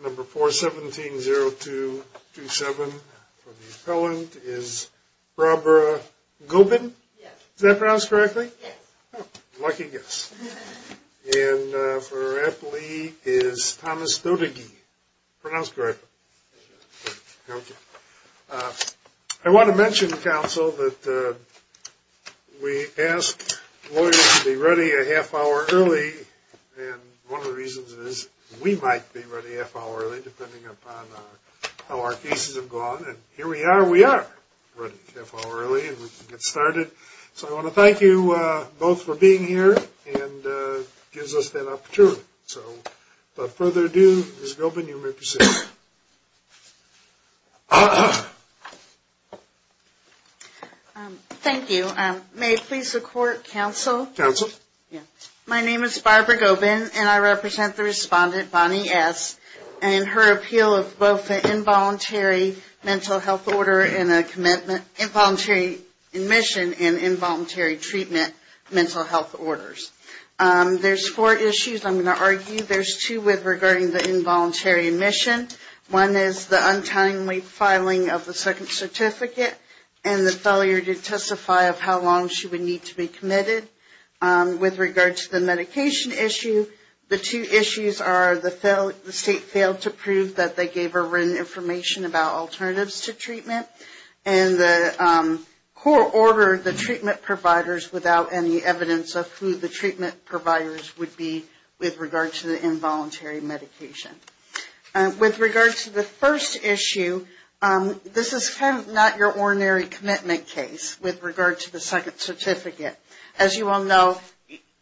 Number 4-17-0-2-2-7 for the appellant is Barbara Gobin, is that pronounced correctly? Yes. Lucky guess. And for our appellee is Thomas Doedeke, pronounced correctly? Yes. Okay. I want to mention, counsel, that we ask lawyers to be ready a half hour early. And one of the reasons is we might be ready a half hour early, depending upon how our cases have gone. And here we are. We are ready a half hour early, and we can get started. So I want to thank you both for being here and gives us that opportunity. So without further ado, Ms. Gobin, you may proceed. Thank you. May it please the court, counsel? Counsel. My name is Barbara Gobin, and I represent the respondent, Bonnie S., and her appeal of both an involuntary mental health order and a commitment, involuntary admission and involuntary treatment mental health orders. There's four issues I'm going to argue. There's two with regarding the involuntary admission. One is the untimely filing of the second certificate and the failure to testify of how long she would need to be committed. With regard to the medication issue, the two issues are the state failed to prove that they gave her written information about alternatives to treatment, and the court ordered the treatment providers without any evidence of who the treatment providers would be with regard to the involuntary medication. With regard to the first issue, this is kind of not your ordinary commitment case with regard to the second certificate. As you all know,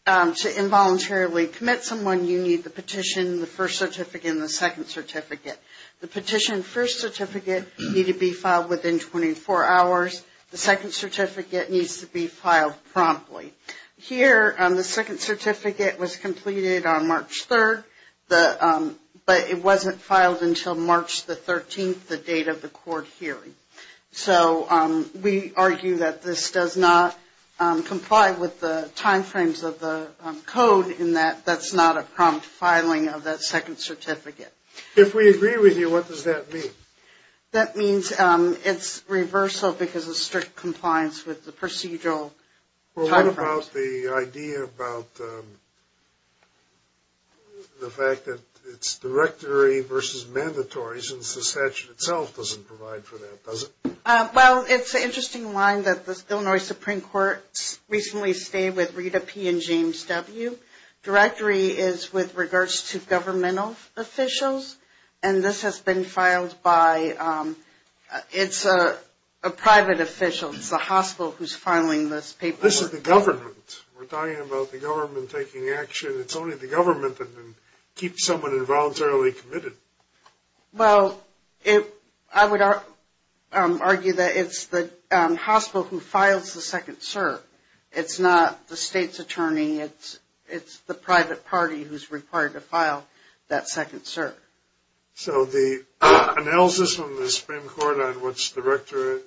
to involuntarily commit someone, you need the petition, the first certificate, and the second certificate. The petition and first certificate need to be filed within 24 hours. The second certificate needs to be filed promptly. Here, the second certificate was completed on March 3rd, but it wasn't filed until March the 13th, the date of the court hearing. So we argue that this does not comply with the timeframes of the code in that that's not a prompt filing of that second certificate. If we agree with you, what does that mean? That means it's reversal because of strict compliance with the procedural timeframes. Well, what about the idea about the fact that it's directory versus mandatory since the statute itself doesn't provide for that, does it? Well, it's an interesting line that the Illinois Supreme Court recently stayed with Rita P. and James W. Directory is with regards to governmental officials, and this has been filed by – it's a private official. It's the hospital who's filing this paperwork. This is the government. We're talking about the government taking action. It's only the government that can keep someone involuntarily committed. Well, I would argue that it's the hospital who files the second cert. It's not the state's attorney. It's the private party who's required to file that second cert. So the analysis from the Supreme Court on what's directory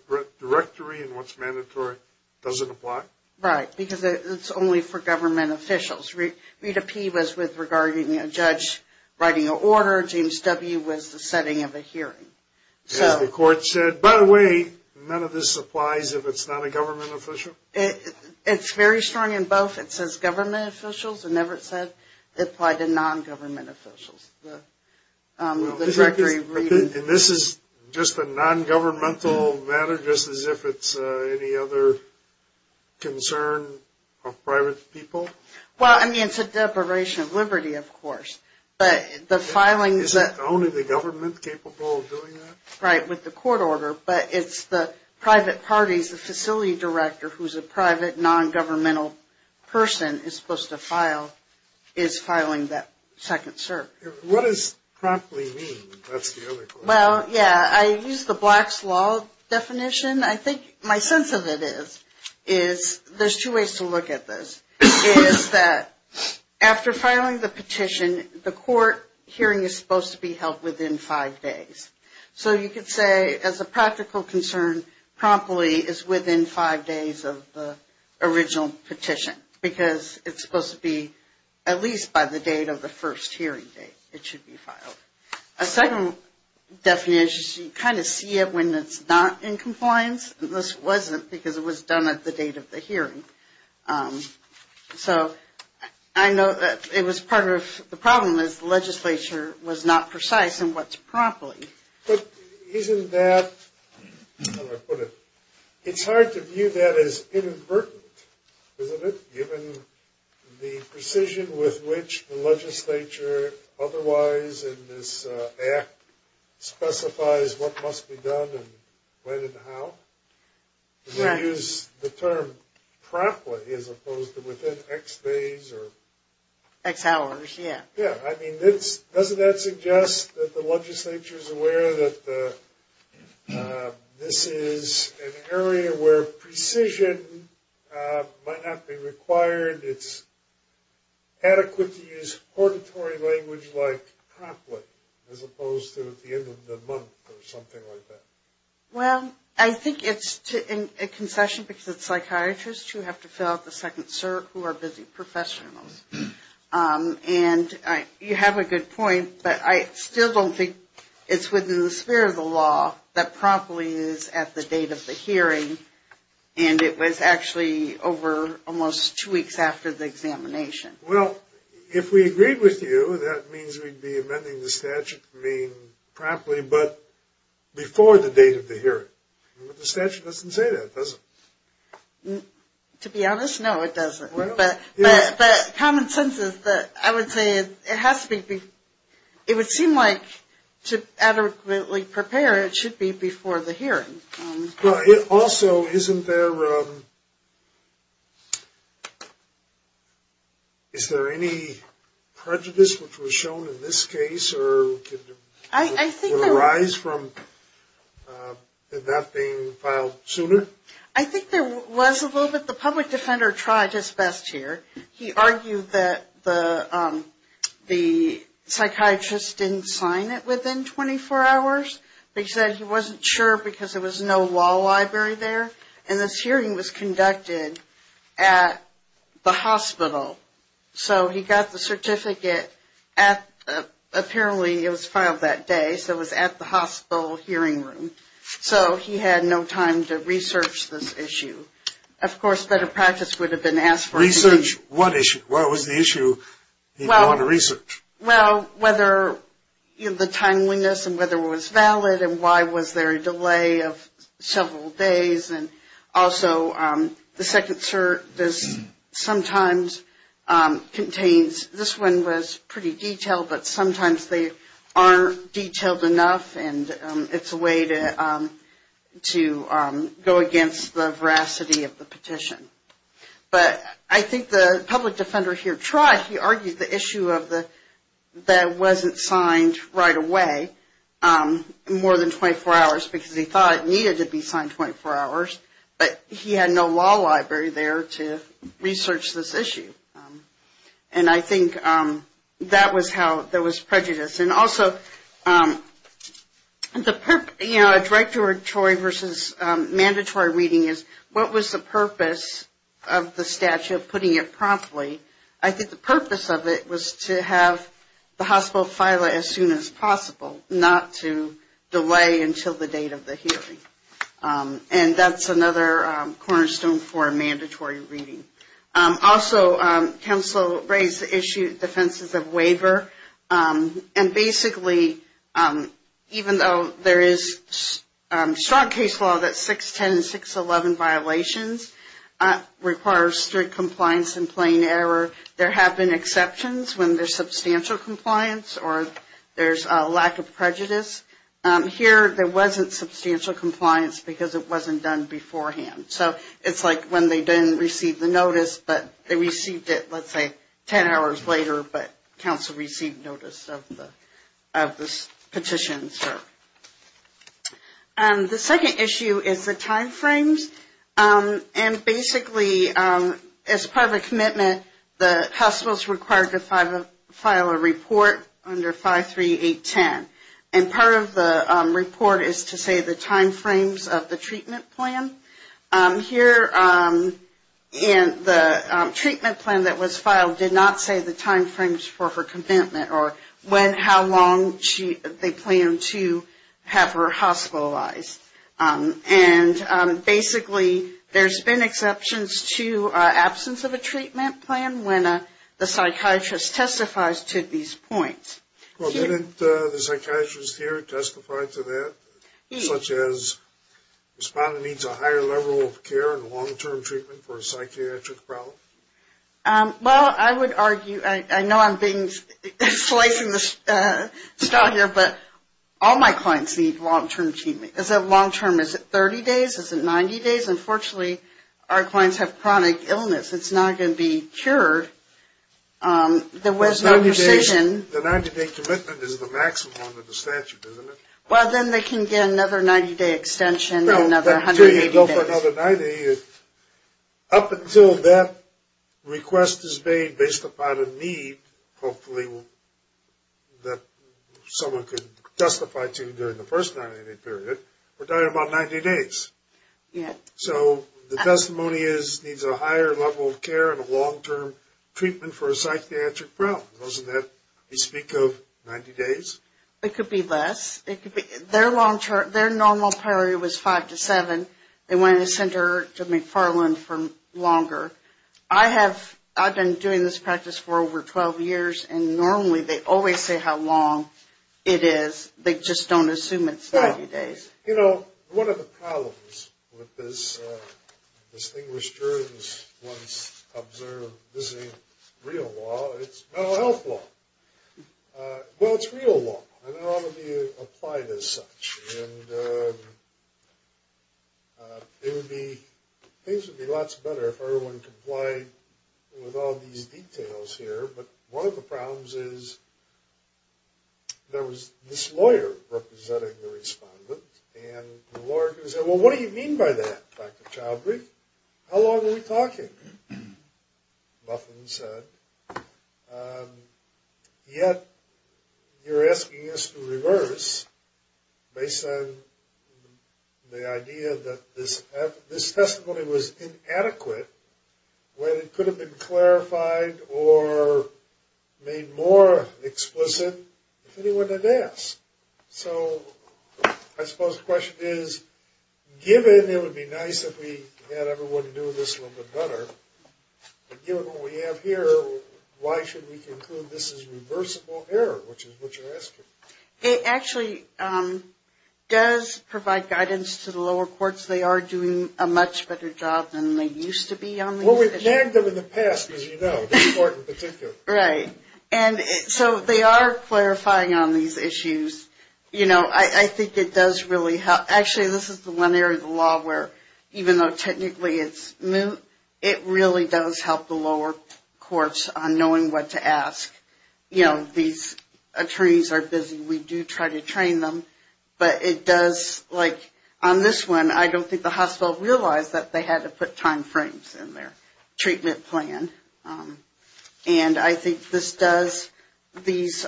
and what's mandatory doesn't apply? Right, because it's only for government officials. Rita P. was with regarding a judge writing an order. James W. was the setting of a hearing. So the court said, by the way, none of this applies if it's not a government official? It's very strong in both. It says government officials, and never said it applied to non-government officials. And this is just a non-governmental matter, just as if it's any other concern of private people? Well, I mean, it's a deprivation of liberty, of course. But the filing – Is it only the government capable of doing that? Right, with the court order. But it's the private parties, the facility director, who's a private, non-governmental person, is supposed to file, is filing that second cert. What does promptly mean? That's the other question. Well, yeah, I use the Black's Law definition. I think my sense of it is, is there's two ways to look at this, is that after filing the petition, the court hearing is supposed to be held within five days. So you could say, as a practical concern, promptly is within five days of the original petition, because it's supposed to be at least by the date of the first hearing date it should be filed. A second definition, you kind of see it when it's not in compliance. This wasn't, because it was done at the date of the hearing. So I know that it was part of – the problem is the legislature was not precise in what's promptly. But isn't that – how do I put it? It's hard to view that as inadvertent, isn't it, given the precision with which the legislature otherwise in this act specifies what must be done and when and how? You use the term promptly as opposed to within X days or – X hours, yeah. Yeah, I mean, doesn't that suggest that the legislature is aware that this is an area where precision might not be required, it's adequate to use purgatory language like promptly as opposed to at the end of the month or something like that? Well, I think it's a concession because it's psychiatrists who have to fill out the second cert who are busy professionals. And you have a good point, but I still don't think it's within the sphere of the law that promptly is at the date of the hearing. And it was actually over almost two weeks after the examination. Well, if we agreed with you, that means we'd be amending the statute to mean promptly, but before the date of the hearing. The statute doesn't say that, does it? To be honest, no, it doesn't. But common sense is that I would say it has to be – it would seem like to adequately prepare it should be before the hearing. Well, it also – isn't there – is there any prejudice which was shown in this case? Or would it arise from that being filed sooner? I think there was a little bit. The public defender tried his best here. He argued that the psychiatrist didn't sign it within 24 hours because he wasn't sure because there was no law library there. And this hearing was conducted at the hospital. So he got the certificate at – apparently it was filed that day, so it was at the hospital hearing room. So he had no time to research this issue. Of course, better practice would have been asked for. Research what issue? What was the issue he brought to research? Well, whether the timeliness and whether it was valid and why was there a delay of several days. And also, the second cert sometimes contains – this one was pretty detailed, but sometimes they aren't detailed enough. And it's a way to go against the veracity of the petition. But I think the public defender here tried. He argued the issue of the – that it wasn't signed right away, more than 24 hours, because he thought it needed to be signed 24 hours. But he had no law library there to research this issue. And I think that was how – there was prejudice. And also, you know, a directoratory versus mandatory reading is what was the purpose of the statute putting it promptly? I think the purpose of it was to have the hospital file it as soon as possible, not to delay until the date of the hearing. And that's another cornerstone for a mandatory reading. Also, counsel raised the issue of defenses of waiver. And basically, even though there is strong case law that 610 and 611 violations require strict compliance in plain error, there have been exceptions when there's substantial compliance or there's a lack of prejudice. Here, there wasn't substantial compliance because it wasn't done beforehand. So it's like when they didn't receive the notice, but they received it, let's say, 10 hours later, but counsel received notice of this petition. The second issue is the timeframes. And basically, as part of a commitment, the hospital is required to file a report under 53810. And part of the report is to say the timeframes of the treatment plan. Here, the treatment plan that was filed did not say the timeframes for her commitment or when, how long they planned to have her hospitalized. And basically, there's been exceptions to absence of a treatment plan when the psychiatrist testifies to these points. Well, didn't the psychiatrist here testify to that, such as the respondent needs a higher level of care and long-term treatment for a psychiatric problem? Well, I would argue, I know I'm slicing the straw here, but all my clients need long-term treatment. Is it long-term? Is it 30 days? Is it 90 days? Unfortunately, our clients have chronic illness. It's not going to be cured. There was no decision. The 90-day commitment is the maximum of the statute, isn't it? Well, then they can get another 90-day extension and another 180 days. No, until you go for another 90, up until that request is made, based upon a need, hopefully, that someone could justify to during the first 90-day period, we're talking about 90 days. So the testimony is needs a higher level of care and a long-term treatment for a psychiatric problem. Doesn't that bespeak of 90 days? It could be less. Their normal priority was 5 to 7. They wanted to send her to McFarland for longer. I've been doing this practice for over 12 years, and normally, they always say how long it is. They just don't assume it's 90 days. You know, one of the problems with this, as distinguished jurors once observed, this isn't real law, it's mental health law. Well, it's real law, and it ought to be applied as such. And things would be lots better if everyone complied with all these details here, but one of the problems is there was this lawyer representing the respondent, and the lawyer said, well, what do you mean by that, Dr. Choudhury? How long are we talking, Buffen said. Yet, you're asking us to reverse based on the idea that this testimony was inadequate when it could have been clarified or made more explicit if anyone had asked. So I suppose the question is, given it would be nice if we had everyone do this a little bit better, but given what we have here, why should we conclude this is reversible error, which is what you're asking. It actually does provide guidance to the lower courts. They are doing a much better job than they used to be on these issues. Well, we've nagged them in the past, as you know, this court in particular. Right. And so they are clarifying on these issues. You know, I think it does really help. Actually, this is the one area of the law where, even though technically it's new, it really does help the lower courts on knowing what to ask. You know, these attorneys are busy. We do try to train them. But it does, like on this one, I don't think the hospital realized that they had to put time frames in their treatment plan. And I think this does, these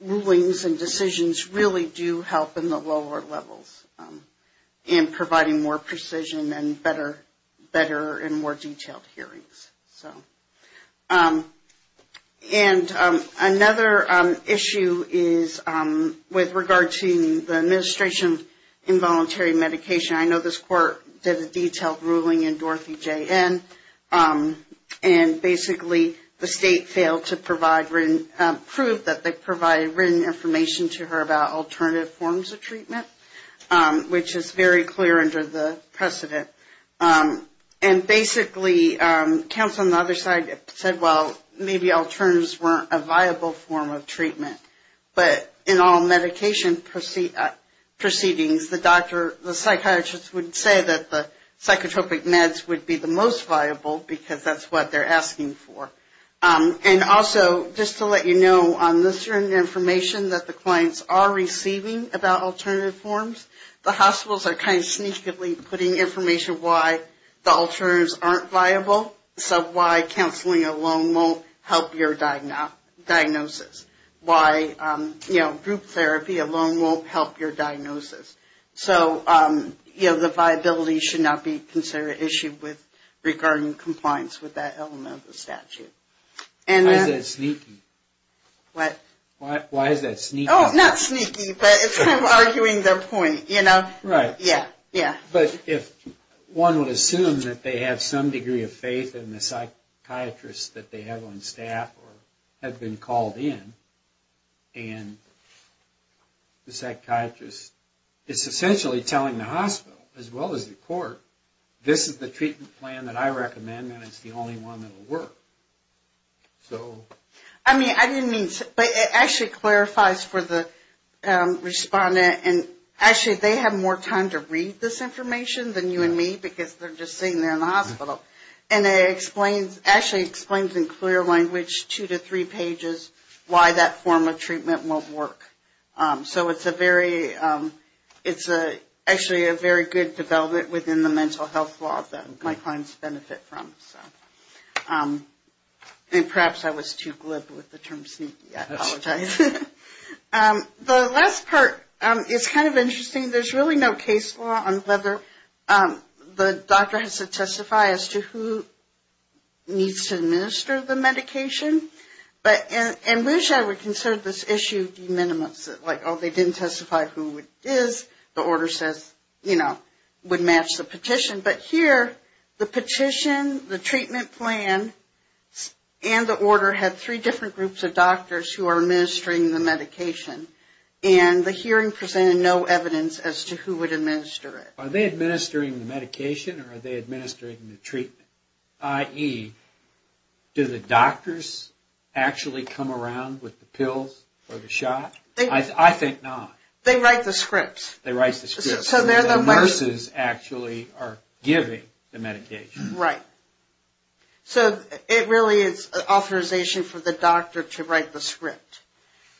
rulings and decisions really do help in the lower levels in providing more precision and better and more detailed hearings. And another issue is with regard to the administration of involuntary medication. I know this court did a detailed ruling in Dorothy J.N. and basically the state failed to provide, prove that they provided written information to her about alternative forms of treatment, which is very clear under the precedent. And basically, counsel on the other side said, well, maybe alternatives weren't a viable form of treatment. But in all medication proceedings, the psychiatrist would say that the psychotropic meds would be the most viable because that's what they're asking for. And also, just to let you know, on this written information that the clients are receiving about alternative forms, the hospitals are kind of sneakily putting information why the alternatives aren't viable, so why counseling alone won't help your diagnosis, why group therapy alone won't help your diagnosis. So, you know, the viability should not be considered an issue with, regarding compliance with that element of the statute. What? Why is that sneaky? Oh, not sneaky, but it's kind of arguing their point, you know? Right. Yeah, yeah. But if one would assume that they have some degree of faith in the psychiatrist that they have on staff or have been called in, and the psychiatrist is essentially telling the hospital as well as the court, this is the treatment plan that I recommend and it's the only one that will work. So. I mean, I didn't mean to, but it actually clarifies for the respondent, and actually they have more time to read this information than you and me because they're just sitting there in the hospital. And it explains, actually explains in clear language two to three pages why that form of treatment won't work. So it's a very, it's actually a very good development within the mental health law that my clients benefit from, so. And perhaps I was too glib with the term sneaky, I apologize. The last part is kind of interesting. There's really no case law on whether the doctor has to testify as to who needs to administer the medication. But I wish I would consider this issue de minimis, like, oh, they didn't testify who it is, the order says, you know, would match the petition. But here, the petition, the treatment plan, and the order had three different groups of doctors who are administering the medication. And the hearing presented no evidence as to who would administer it. Are they administering the medication or are they administering the treatment? I.e., do the doctors actually come around with the pills for the shot? I think not. They write the scripts. They write the scripts. The nurses actually are giving the medication. Right. So it really is authorization for the doctor to write the script.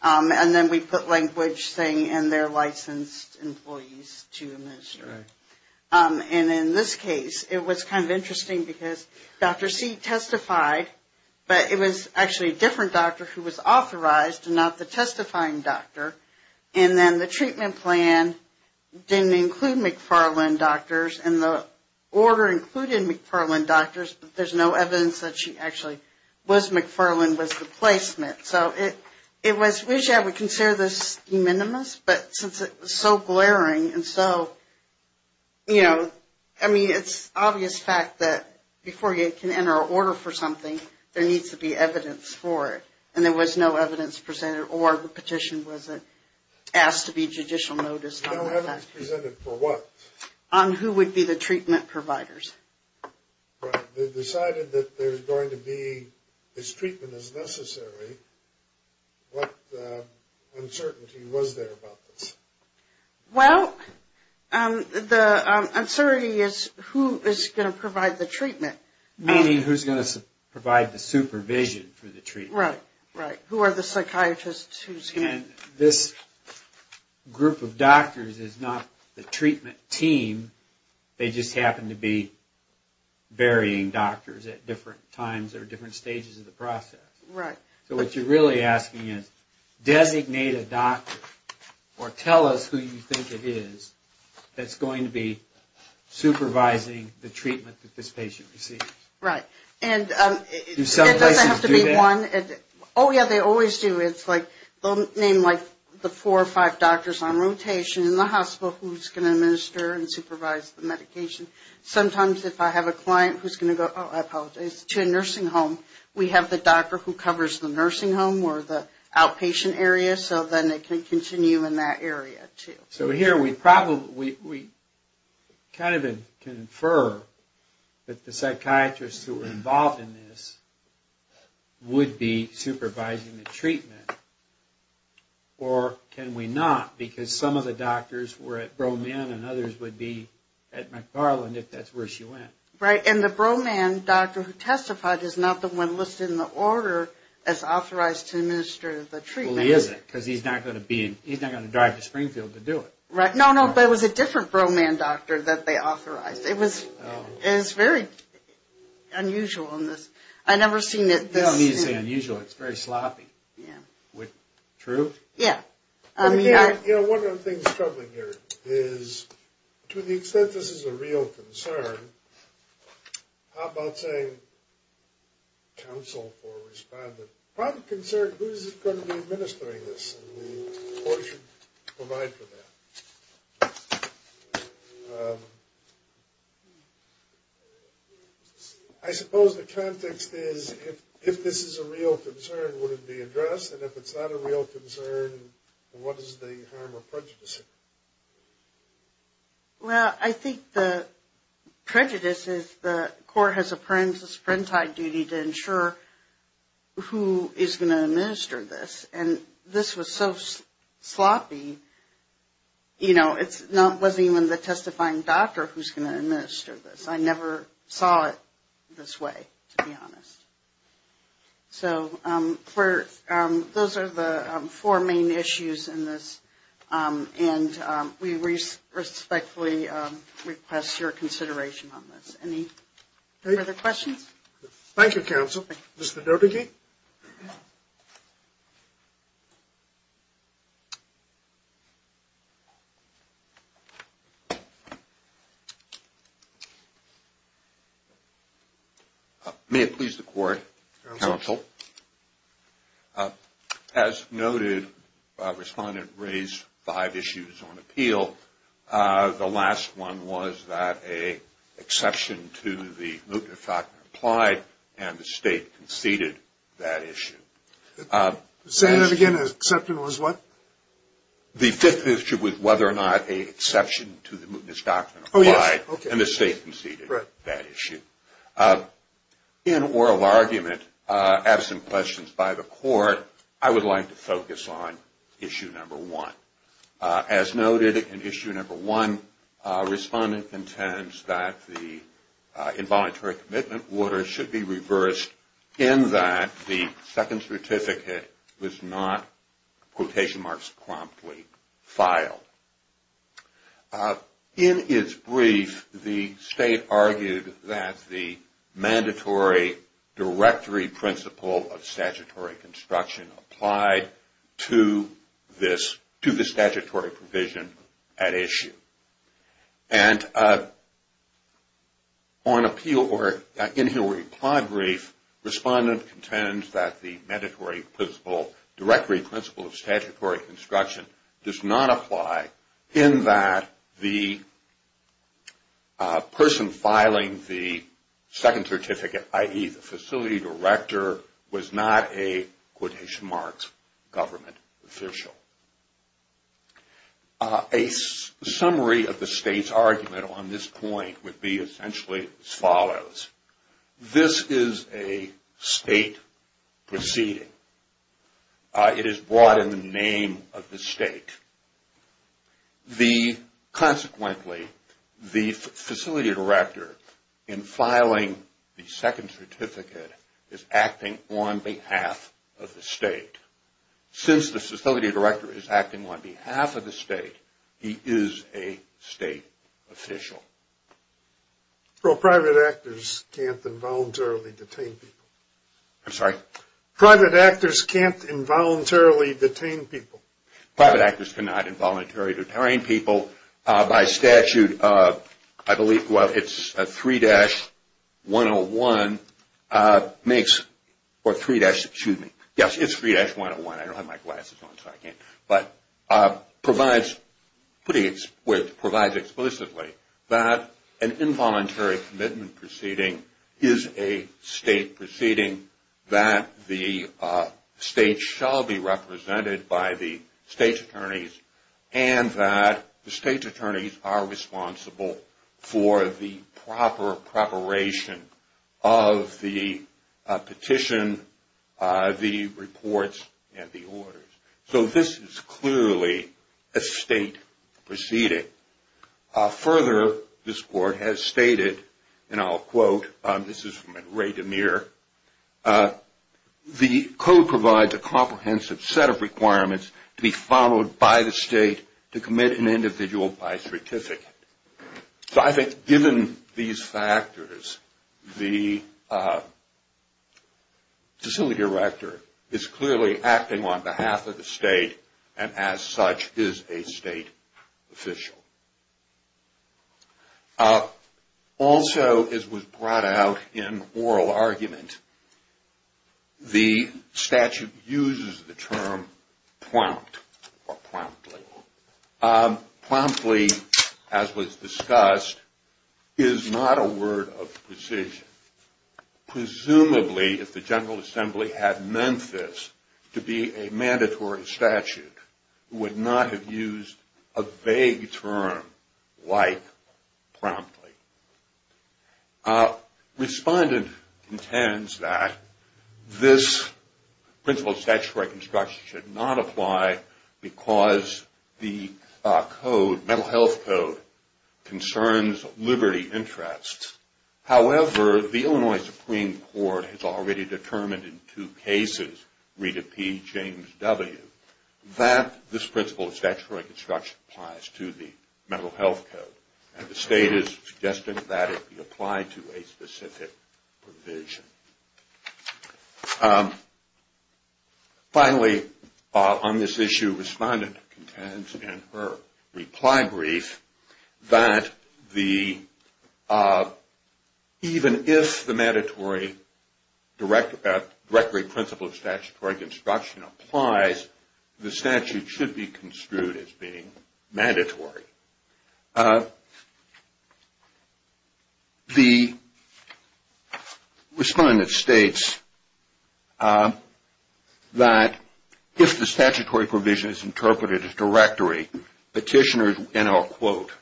And then we put language saying, and they're licensed employees to administer. And in this case, it was kind of interesting because Dr. C testified, but it was actually a different doctor who was authorized and not the testifying doctor. And then the treatment plan didn't include McFarland doctors, and the order included McFarland doctors, but there's no evidence that she actually was McFarland with the placement. So I wish I would consider this de minimis, but since it was so glaring and so, you know, I mean it's an obvious fact that before you can enter an order for something, there needs to be evidence for it. And there was no evidence presented, or the petition wasn't asked to be judicial noticed. No evidence presented for what? On who would be the treatment providers. Right. They decided that there's going to be as treatment as necessary. What uncertainty was there about this? Well, the uncertainty is who is going to provide the treatment. Meaning who's going to provide the supervision for the treatment. Right, right. Who are the psychiatrists? And this group of doctors is not the treatment team, they just happen to be varying doctors at different times or different stages of the process. Right. So what you're really asking is, designate a doctor, or tell us who you think it is, that's going to be supervising the treatment that this patient receives. Right. And it doesn't have to be one. Do some places do that? Oh, yeah, they always do. It's like, they'll name like the four or five doctors on rotation in the hospital who's going to administer and supervise the medication. Sometimes if I have a client who's going to go, oh, I apologize, to a nursing home, we have the doctor who covers the nursing home or the outpatient area, so then it can continue in that area too. So here we kind of can infer that the psychiatrists who are involved in this would be supervising the treatment, or can we not? Because some of the doctors were at Broman and others would be at McFarland, if that's where she went. Right, and the Broman doctor who testified is not the one listed in the order as authorized to administer the treatment. He probably isn't because he's not going to drive to Springfield to do it. No, no, but it was a different Broman doctor that they authorized. It was very unusual in this. I've never seen it this. I don't mean to say unusual. It's very sloppy. Yeah. True? Yeah. You know, one of the things troubling here is to the extent this is a real concern, how about saying counsel or respondent? Private concern, who's going to be administering this? And the court should provide for that. I suppose the context is if this is a real concern, would it be addressed? And if it's not a real concern, what is the harm or prejudice? Well, I think the prejudice is the court has a parental duty to ensure who is going to administer this. And this was so sloppy, you know, it wasn't even the testifying doctor who's going to administer this. I never saw it this way, to be honest. So those are the four main issues in this. And we respectfully request your consideration on this. Any further questions? Thank you, counsel. Mr. Dobeke? May it please the court, counsel? As noted, respondent raised five issues on appeal. The last one was that an exception to the loop effect applied and the state conceded. Say that again, the exception was what? The fifth issue was whether or not an exception to the mootness doctrine applied and the state conceded that issue. In oral argument, absent questions by the court, I would like to focus on issue number one. As noted in issue number one, respondent intends that the involuntary commitment order should be reversed in that the second certificate was not quotation marks promptly filed. In its brief, the state argued that the mandatory directory principle of statutory construction applied to this, to the statutory provision at issue. And on appeal or in the reply brief, respondent contends that the mandatory principle, directory principle of statutory construction, does not apply in that the person filing the second certificate, i.e., the facility director, was not a quotation marks government official. A summary of the state's argument on this point would be essentially as follows. This is a state proceeding. It is brought in the name of the state. Consequently, the facility director in filing the second certificate is acting on behalf of the state. Since the facility director is acting on behalf of the state, he is a state official. Well, private actors can't involuntarily detain people. I'm sorry? Private actors can't involuntarily detain people. Private actors cannot involuntarily detain people. By statute, I believe, well, it's 3-101 makes or 3- excuse me. Yes, it's 3-101. I don't have my glasses on, so I can't. But provides explicitly that an involuntary commitment proceeding is a state proceeding, that the state shall be represented by the state's attorneys, and that the state's attorneys are responsible for the proper preparation of the petition, the reports, and the orders. So this is clearly a state proceeding. Further, this court has stated, and I'll quote, this is from Ray DeMere, the code provides a comprehensive set of requirements to be followed by the state to commit an individual by certificate. So I think given these factors, the facility director is clearly acting on behalf of the state, and as such is a state official. Also, as was brought out in oral argument, the statute uses the term prompt or promptly. Promptly, as was discussed, is not a word of precision. Presumably, if the General Assembly had meant this to be a mandatory statute, it would not have used a vague term like promptly. Respondent intends that this principle of statutory construction should not apply because the code, mental health code, concerns liberty interests. However, the Illinois Supreme Court has already determined in two cases, read it P. James W., that this principle of statutory construction applies to the mental health code, and the state is suggesting that it be applied to a specific provision. Finally, on this issue, Respondent contends in her reply brief that the, even if the mandatory directory principle of statutory construction applies, the statute should be construed as being mandatory. The Respondent states that if the statutory provision is interpreted as directory, petitioners, and I'll quote,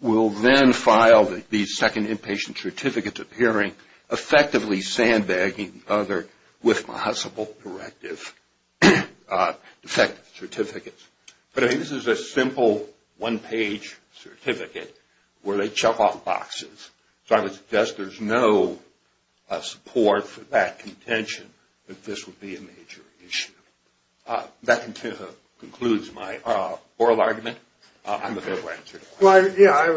will then file these second inpatient certificates of hearing, effectively sandbagging the other with possible directive defective certificates. But I think this is a simple one-page certificate where they chuck off boxes. So I would suggest there's no support for that contention that this would be a major issue. That concludes my oral argument. I have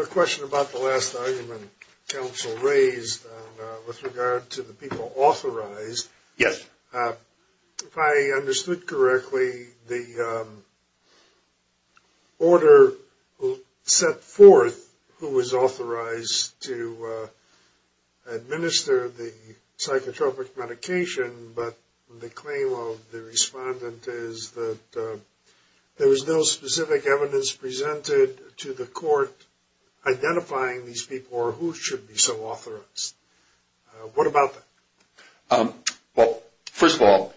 a question about the last argument counsel raised with regard to the people authorized. Yes. If I understood correctly, the order set forth who was authorized to administer the psychotropic medication, but the claim of the Respondent is that there was no specific evidence presented to the court identifying these people or who should be so authorized. What about that? Well, first of all,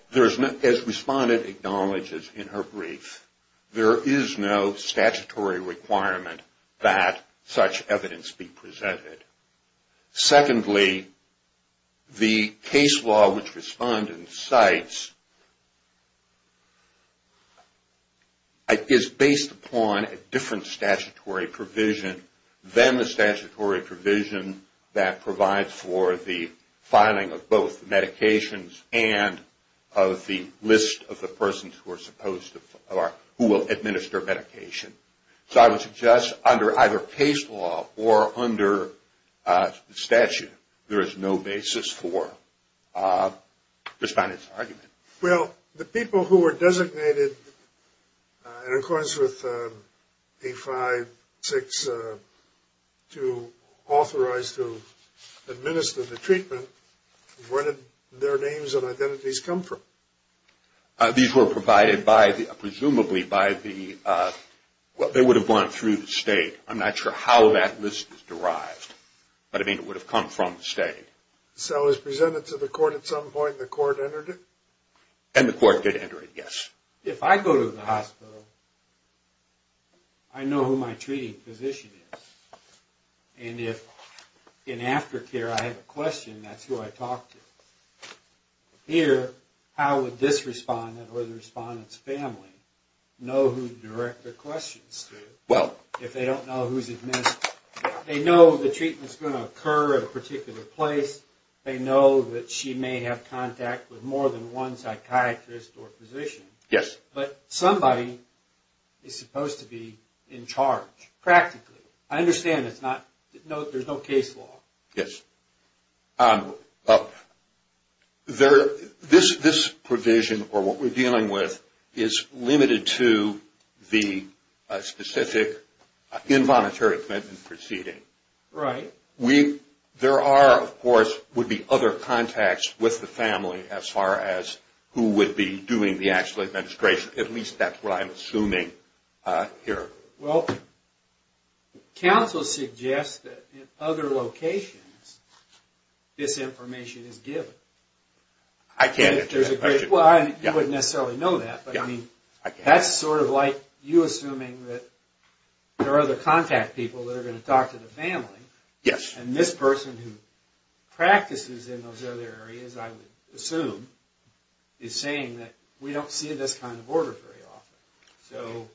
as Respondent acknowledges in her brief, there is no statutory requirement that such evidence be presented. Secondly, the case law which Respondent cites is based upon a different statutory provision than the statutory provision that provides for the filing of both medications and of the list of the persons who are supposed to or who will administer medication. So I would suggest under either case law or under statute, there is no basis for Respondent's argument. Well, the people who were designated in accordance with A-5-6 to authorize to administer the treatment, where did their names and identities come from? These were provided presumably by what they would have gone through the state. I'm not sure how that list was derived, but I mean it would have come from the state. So it was presented to the court at some point and the court entered it? And the court did enter it, yes. If I go to the hospital, I know who my treating physician is. And if in aftercare I have a question, that's who I talk to. Here, how would this Respondent or the Respondent's family know who to direct their questions to? Well, if they don't know who's administered. They know the treatment's going to occur at a particular place. They know that she may have contact with more than one psychiatrist or physician. Yes. But somebody is supposed to be in charge practically. I understand there's no case law. Yes. This provision or what we're dealing with is limited to the specific involuntary admittance proceeding. Right. There are, of course, would be other contacts with the family as far as who would be doing the actual administration. At least that's what I'm assuming here. Well, counsel suggests that in other locations, this information is given. I can't answer that question. You wouldn't necessarily know that. That's sort of like you assuming that there are other contact people that are going to talk to the family. Yes. And this person who practices in those other areas, I would assume, is saying that we don't see this kind of order very often.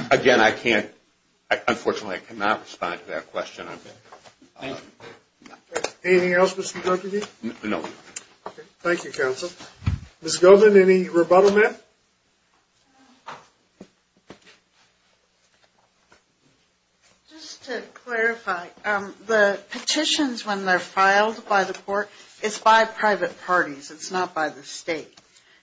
So, again, I can't, unfortunately, I cannot respond to that question. Thank you. Anything else, Mr. Deputy? No. Thank you, counsel. Ms. Goldman, any rebuttal, ma'am? Just to clarify, the petitions when they're filed by the court, it's by private parties. It's not by the state.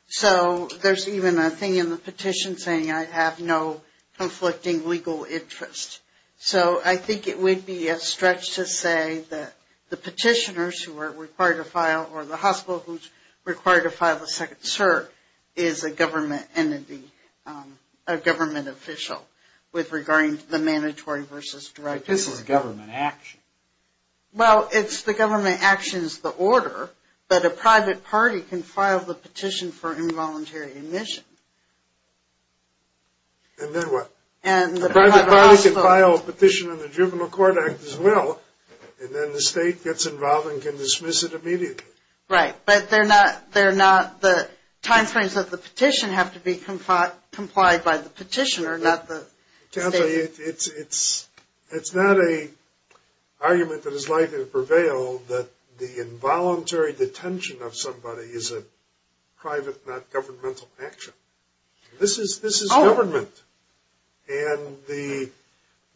So, there's even a thing in the petition saying I have no conflicting legal interest. So, I think it would be a stretch to say that the petitioners who are required to file, or the hospital who's required to file a second cert, is a government entity, a government official, with regarding to the mandatory versus direct petition. But this is government action. Well, it's the government action is the order, but a private party can file the petition for involuntary admission. And then what? A private party can file a petition in the juvenile court act as well, and then the state gets involved and can dismiss it immediately. Right. But they're not, the timeframes of the petition have to be complied by the petitioner, not the state. Well, it's not an argument that is likely to prevail that the involuntary detention of somebody is a private, not governmental action. This is government. And the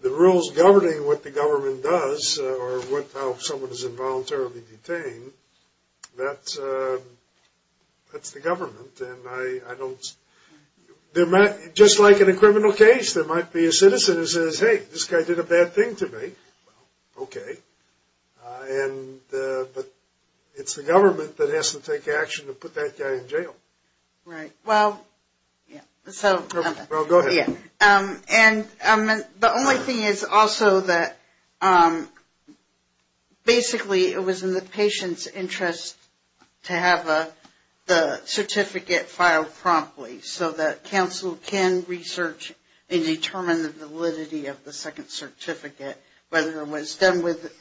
rules governing what the government does, or how someone is involuntarily detained, that's the government. And I don't, just like in a criminal case, there might be a citizen who says, hey, this guy did a bad thing to me. Okay. But it's the government that has to take action to put that guy in jail. Right. Well, so. Well, go ahead. And the only thing is also that basically it was in the patient's interest to have the certificate filed promptly so that counsel can research and determine the validity of the second certificate, whether it was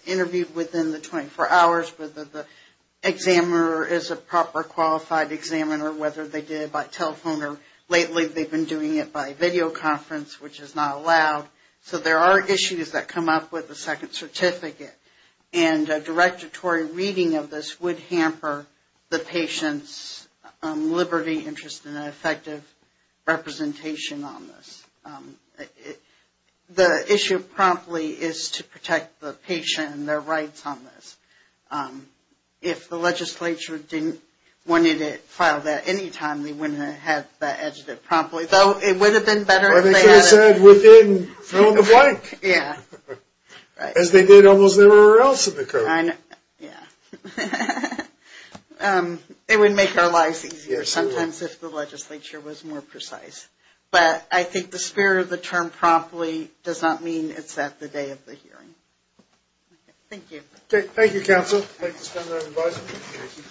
interviewed within the 24 hours, whether the examiner is a proper qualified examiner, whether they did it by telephone. Lately they've been doing it by videoconference, which is not allowed. So there are issues that come up with the second certificate. And a directory reading of this would hamper the patient's liberty, interest, and effective representation on this. The issue promptly is to protect the patient and their rights on this. If the legislature didn't want you to file that anytime, they wouldn't have had that edited promptly. Though it would have been better if they had. I think they said within, fill in the blank. Yeah. As they did almost everywhere else in the code. Yeah. It would make our lives easier sometimes if the legislature was more precise. But I think the spirit of the term promptly does not mean it's at the day of the hearing. Thank you. Okay. Thank you, counsel. Thank you.